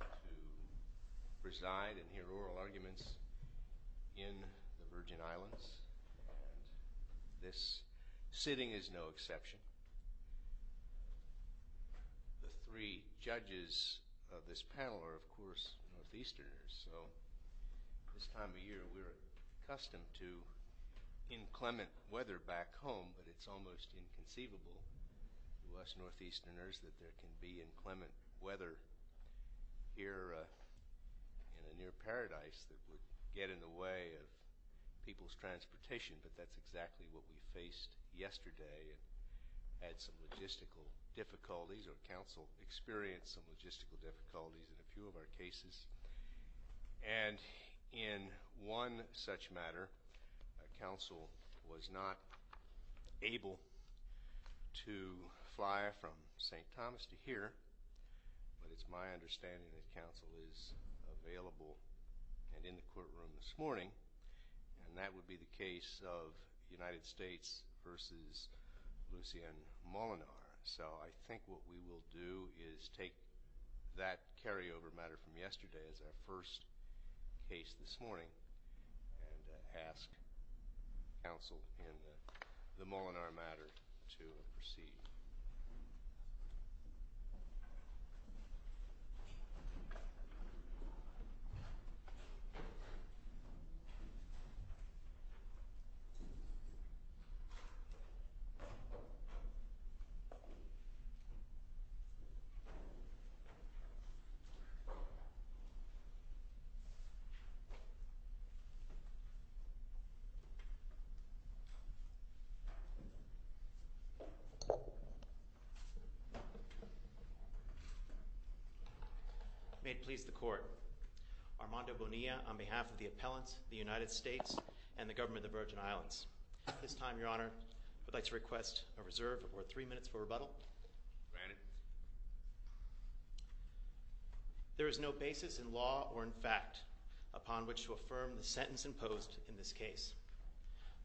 to preside and hear oral arguments in the Virgin Islands, and this sitting is no exception. The three judges of this panel are, of course, Northeasterners, so this time of year we're accustomed to inclement weather back home, but it's almost inconceivable to us Northeasterners that there can be inclement weather here in a near paradise that would get in the way of people's transportation, but that's exactly what we faced yesterday and had some logistical difficulties, or Council experienced some logistical difficulties in a few of our cases. And in one such matter, Council was not able to fly from St. Thomas to here, but it's my understanding that Council is available and in the courtroom this morning, and that would be the case of United States v. Lucien Moolenaar, so I think what we will do is take that carryover matter from yesterday as our first case this morning and ask Council in the Moolenaar matter to proceed. May it please the Court. Armando Bonilla on behalf of the Appellants, the United States, and the Government of the Virgin Islands. At this time, Your Honor, I would like to request a reserve for three minutes for rebuttal. Granted. There is no basis in law or in fact upon which to affirm the sentence imposed in this case.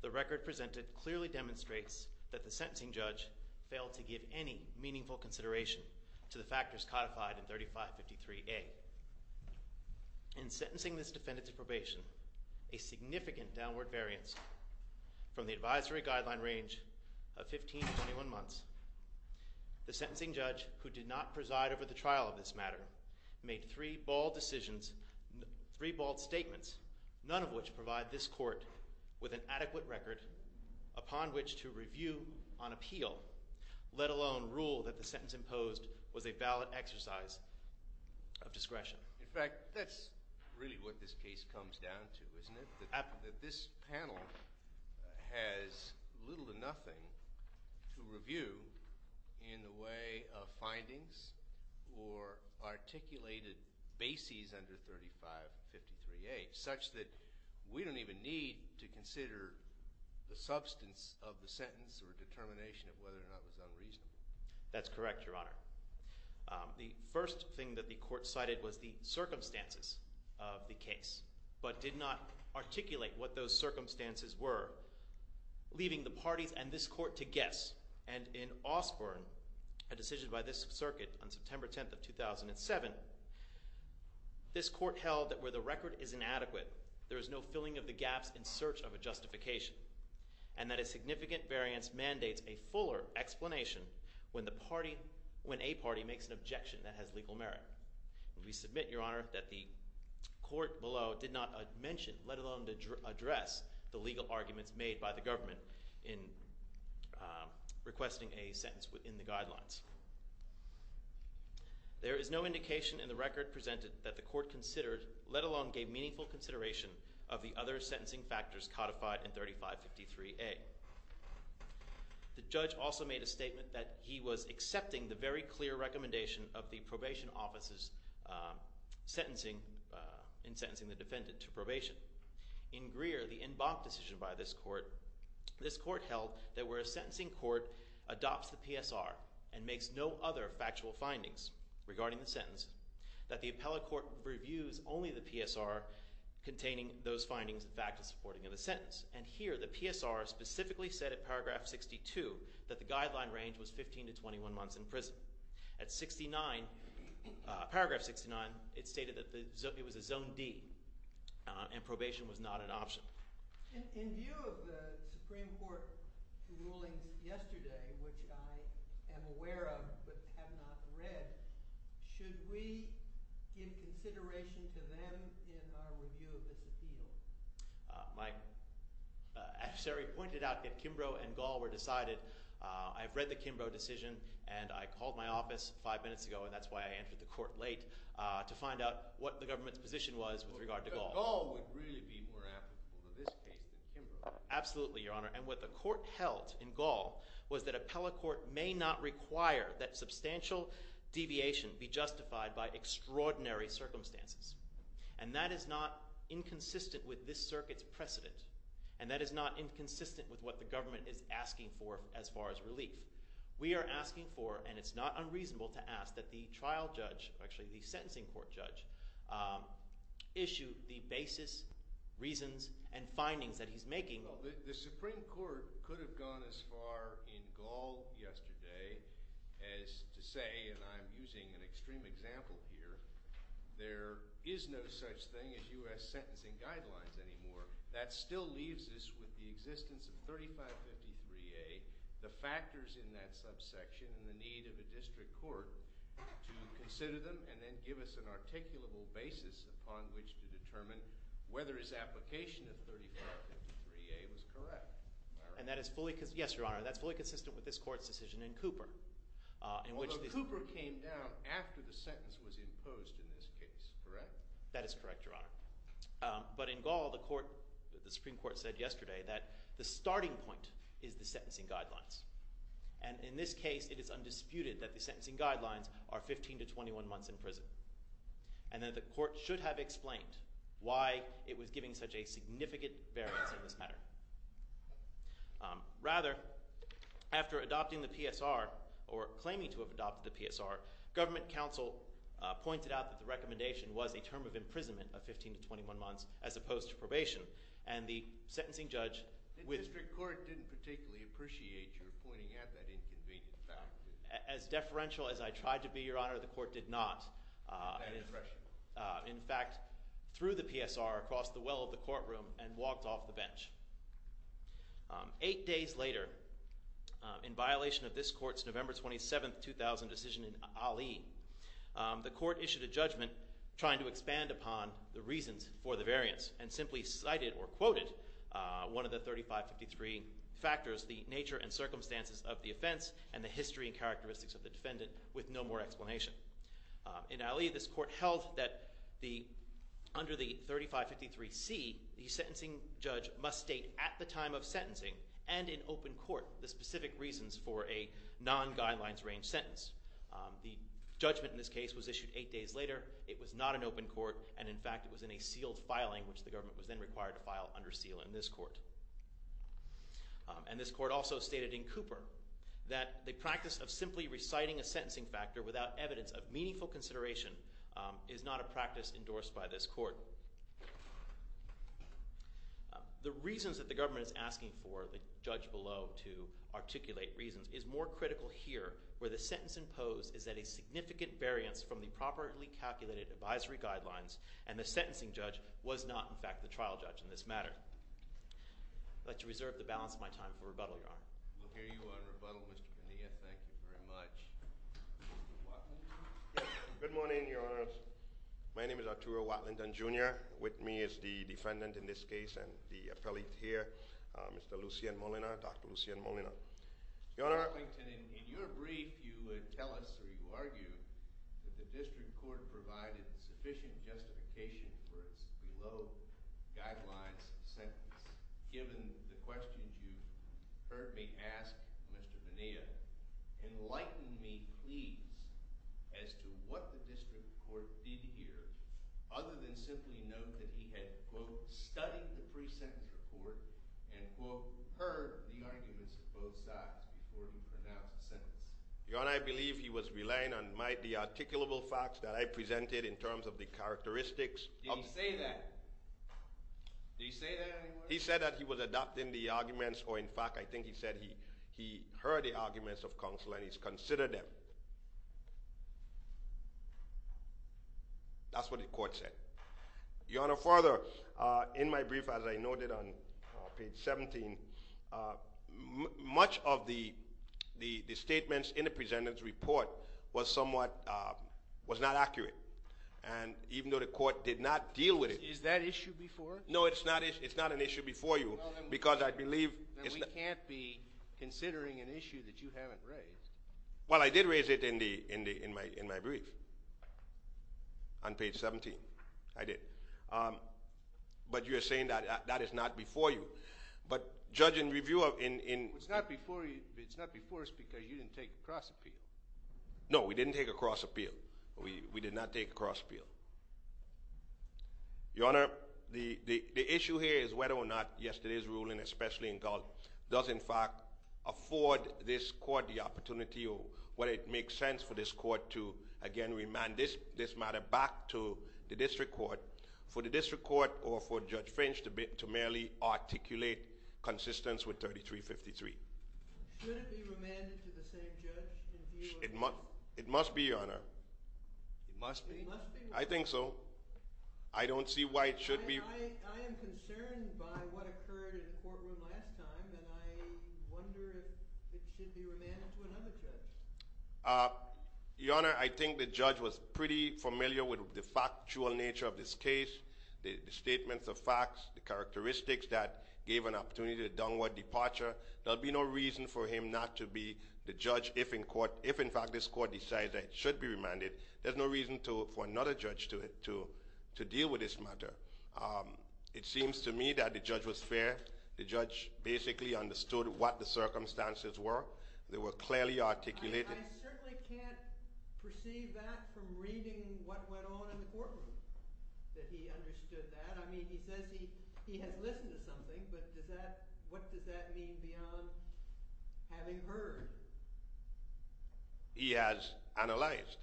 The record presented clearly demonstrates that the sentencing judge failed to give any meaningful consideration to the factors codified in 3553A. In sentencing this defendant a significant downward variance from the advisory guideline range of 15 to 21 months. The sentencing judge who did not preside over the trial of this matter made three bald decisions, three bald statements, none of which provide this Court with an adequate record upon which to review on appeal, let alone rule that the sentence imposed was a valid exercise of discretion. In fact, that's really what this case comes down to, isn't it? That this panel has little to nothing to review in the way of findings or articulated bases under 3553A such that we don't even need to consider the substance of the sentence or determination of whether or not it was unreasonable. That's correct, Your Honor. The first thing that the Court cited was the circumstances of the case but did not articulate what those circumstances were, leaving the parties and this Court to guess. And in Osborne, a decision by this circuit on September 10th of 2007, this Court held that where the record is inadequate there is no filling of the gaps in search of a justification and that a significant variance mandates a fuller explanation when a party makes an objection that has legal merit. We submit, Your Honor, that the Court below did not mention, let alone address, the legal arguments made by the government in requesting a sentence within the guidelines. There is no indication in the record presented that the Court considered, let alone gave meaningful consideration of the other sentencing factors codified in 3553A. The judge also made a statement that he was accepting the very clear recommendation of the probation office's sentencing, in sentencing the defendant to probation. In Greer, the en banc decision by this Court, this Court held that where a sentencing court adopts the PSR and makes no other factual findings regarding the sentence, that the appellate court reviews only the PSR containing those findings and factors supporting the sentence. And here, the PSR specifically said at paragraph 62 that the guideline range was 15 to 21 months in prison. At 69, paragraph 69, it stated that it was a zone D and probation was not an option. In view of the Supreme Court rulings yesterday, which I am aware of but have not read, should we give consideration to them in our review of this appeal? My adversary pointed out that Kimbrough and Gall were decided. I've read the Kimbrough decision and I called my office five minutes ago, and that's why I entered the Court late, to find out what the government's position was with regard to Gall. But Gall would really be more applicable to this case than Kimbrough. Absolutely, Your Honor. And what the Court held in Gall was that appellate court may not require that substantial deviation be justified by extraordinary circumstances. And that is not inconsistent with this circuit's precedent. And that is not inconsistent with what the government is asking for as far as relief. We are asking for, and it's not unreasonable to ask, that the trial judge, actually the sentencing court judge, issue the basis, reasons, and findings that he's making. The Supreme Court could have gone as far in Gall yesterday as to say, and I'm using an extreme example here, there is no such thing as U.S. sentencing guidelines anymore. That still leaves us with the existence of 3553A, the factors in that subsection, and the need of a district court to consider them and then give us an articulable basis upon which to determine whether his application of 3553A was correct. And that is fully – yes, Your Honor, that is fully consistent with this Court's decision in Cooper. Although Cooper came down after the sentence was imposed in this case, correct? That is correct, Your Honor. But in Gall, the Supreme Court said yesterday that the starting point is the sentencing guidelines. And in this case, it is undisputed that the sentencing guidelines are 15 to 21 months in prison. And that the Court should have explained why it was giving such a significant variance in this matter. Rather, after adopting the PSR or claiming to have adopted the PSR, government counsel pointed out that the recommendation was a term of imprisonment of 15 to 21 months as opposed to probation. And the sentencing judge – The district court didn't particularly appreciate your pointing out that inconvenient fact. As deferential as I tried to be, Your Honor, the Court did not. In fact, threw the PSR across the well of the courtroom and walked off the bench. Eight days later, in violation of this Court's November 27, 2000 decision in Ali, the Court issued a judgment trying to expand upon the reasons for the variance and simply cited or quoted one of the 3553 factors, the nature and circumstances of the offense and the history and characteristics of the defendant with no more explanation. In Ali, this Court held that under the 3553C, the sentencing judge must state at the time of sentencing and in open court the specific reasons for a non-guidelines range sentence. The judgment in this case was issued eight days later. It was not in open court. And in fact, it was in a sealed filing, which the government was then required to file under seal in this Court. And this Court also stated in Cooper that the practice of simply reciting a sentencing factor without evidence of meaningful consideration is not a practice endorsed by this Court. The reasons that the government is asking for, the judge below to articulate reasons, is more critical here where the sentence imposed is that a significant variance from the properly calculated advisory guidelines and the sentencing judge was not, in fact, the trial judge in this matter. I'd like to reserve the balance of my time for rebuttal, Your Honor. We'll hear you on rebuttal, Mr. Bonilla. Thank you very much. Mr. Watlington? Good morning, Your Honors. My name is Arturo Watlington, Jr. With me is the defendant in this case and the appellate here, Mr. Lucien Molina, Dr. Lucien Molina. Your Honor. Mr. Watlington, in your brief, you tell us or you argue that the district court provided sufficient justification for its below guidelines sentence. Given the questions you've heard me ask, Mr. Bonilla, enlighten me, please, as to what the district court did here other than simply note that he had, quote, studied the pre-sentence report and, quote, heard the arguments of both sides before he pronounced the sentence. Your Honor, I believe he was relying on the articulable facts that I presented in terms of the characteristics of... Did he say that? Did he say that anywhere? He said that he was adopting the arguments or, in fact, I think he said he heard the arguments of counsel and he's considered them. That's what the court said. Your Honor, further, in my brief, as I noted on page 17, much of the statements in the pre-sentence report was somewhat...was not accurate. And even though the court did not deal with it... Is that issue before? No, it's not an issue before you because I believe... Then we can't be considering an issue that you haven't raised. Well, I did raise it in my brief on page 17. I did. But you're saying that that is not before you. But, Judge, in review of... It's not before you. It's not before us because you didn't take a cross-appeal. No, we didn't take a cross-appeal. We did not take a cross-appeal. Your Honor, the issue here is whether or not yesterday's ruling, especially in Gallup, does, in fact, afford this court the opportunity or whether it makes sense for this court to, again, remand this matter back to the district court for the district court or for Judge French to merely articulate consistence with 3353. Should it be remanded to the same judge in view of... It must be, Your Honor. It must be? I think so. I don't see why it should be... I am concerned by what occurred in the courtroom last time, and I wonder if it should be remanded to another judge. Your Honor, I think the judge was pretty familiar with the factual nature of this case, the statements of facts, the characteristics that gave an opportunity to a downward departure. There'll be no reason for him not to be the judge if, in fact, this court decides that it should be remanded. There's no reason for another judge to deal with this matter. It seems to me that the judge was fair. The judge basically understood what the circumstances were. They were clearly articulated. I certainly can't perceive that from reading what went on in the courtroom, that he understood that. I mean, he says he has listened to something, but what does that mean beyond having heard? He has analyzed.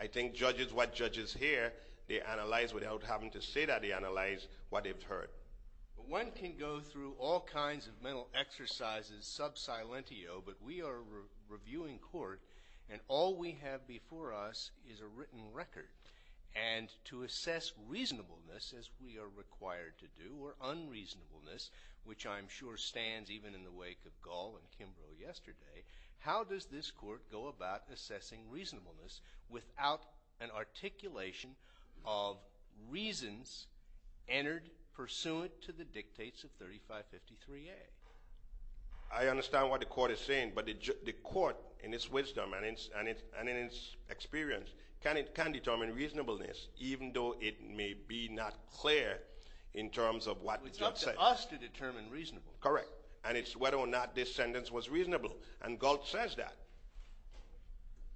I think judges, what judges hear, they analyze without having to say that. They analyze what they've heard. One can go through all kinds of mental exercises sub silentio, but we are a reviewing court, and all we have before us is a written record. And to assess reasonableness, as we are required to do, or unreasonableness, which I'm sure stands even in the wake of Gall and Kimbrough yesterday, how does this court go about assessing reasonableness without an articulation of reasons entered pursuant to the dictates of 3553A? I understand what the court is saying, but the court in its wisdom and in its experience can determine reasonableness, even though it may be not clear in terms of what it says. It's up to us to determine reasonableness. Correct. And it's whether or not this sentence was reasonable. And Galt says that.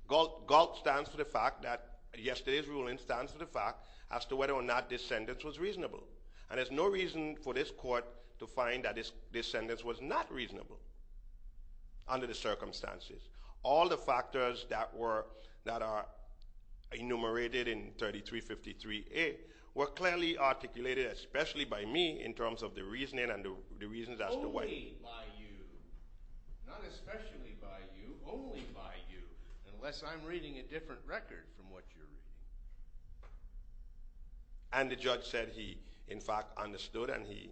Galt stands for the fact that yesterday's ruling stands for the fact as to whether or not this sentence was reasonable. And there's no reason for this court to find that this sentence was not reasonable under the circumstances. All the factors that are enumerated in 3353A were clearly articulated, especially by me, in terms of the reasoning and the reasons as to why. Only by you, not especially by you, only by you, unless I'm reading a different record from what you're reading. And the judge said he, in fact, understood and he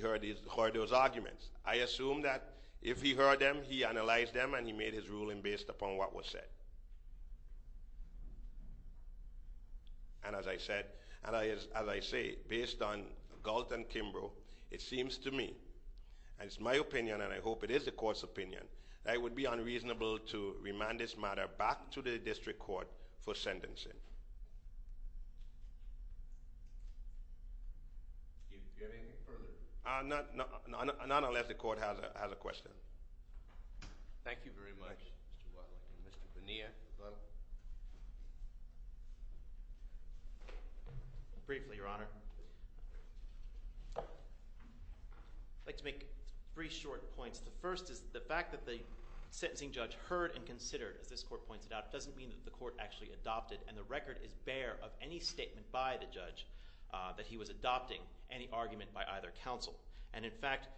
heard those arguments. I assume that if he heard them, he analyzed them, and he made his ruling based upon what was said. And as I said, and as I say, based on Galt and Kimbrough, it seems to me, and it's my opinion and I hope it is the court's opinion, that it would be unreasonable to remand this matter back to the district court for sentencing. Do you have anything further? Not unless the court has a question. Thank you very much, Mr. Wiley. Mr. Bonilla. Briefly, Your Honor. I'd like to make three short points. The first is the fact that the sentencing judge heard and considered, as this court pointed out, doesn't mean that the court actually adopted, and the record is bare of any statement by the judge that he was adopting any argument by either counsel. And, in fact,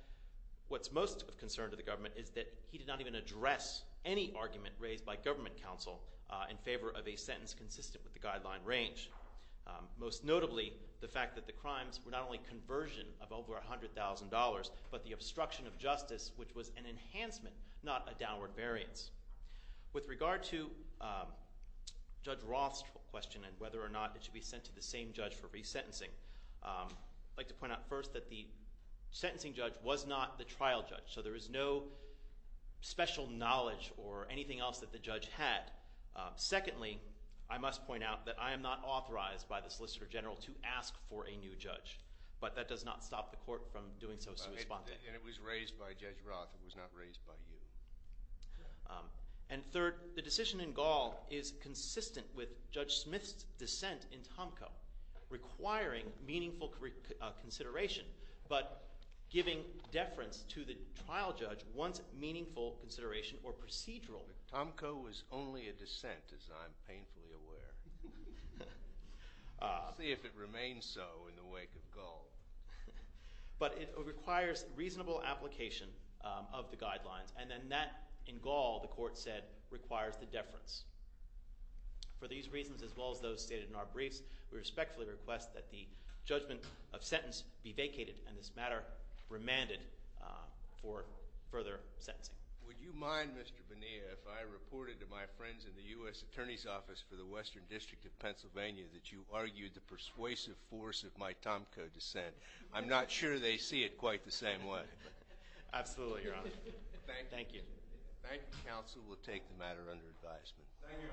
what's most of concern to the government is that he did not even address any argument raised by government counsel in favor of a sentence consistent with the guideline range. Most notably, the fact that the crimes were not only conversion of over $100,000, but the obstruction of justice, which was an enhancement, not a downward variance. With regard to Judge Roth's question and whether or not it should be sent to the same judge for resentencing, I'd like to point out first that the sentencing judge was not the trial judge, so there is no special knowledge or anything else that the judge had. Secondly, I must point out that I am not authorized by the Solicitor General to ask for a new judge, but that does not stop the court from doing so. And it was raised by Judge Roth. It was not raised by you. And third, the decision in Gall is consistent with Judge Smith's dissent in Tomko, requiring meaningful consideration, but giving deference to the trial judge once meaningful consideration or procedural. Tomko was only a dissent, as I'm painfully aware. We'll see if it remains so in the wake of Gall. But it requires reasonable application of the guidelines, and then that, in Gall, the court said, requires the deference. For these reasons, as well as those stated in our briefs, we respectfully request that the judgment of sentence be vacated and this matter remanded for further sentencing. Would you mind, Mr. Bonilla, if I reported to my friends in the U.S. Attorney's Office for the Western District of Pennsylvania that you argued the persuasive force of my Tomko dissent? I'm not sure they see it quite the same way. Absolutely, Your Honor. Thank you. Thank you, counsel. We'll take the matter under advisement. Thank you, Your Honor. It would be a pleasure.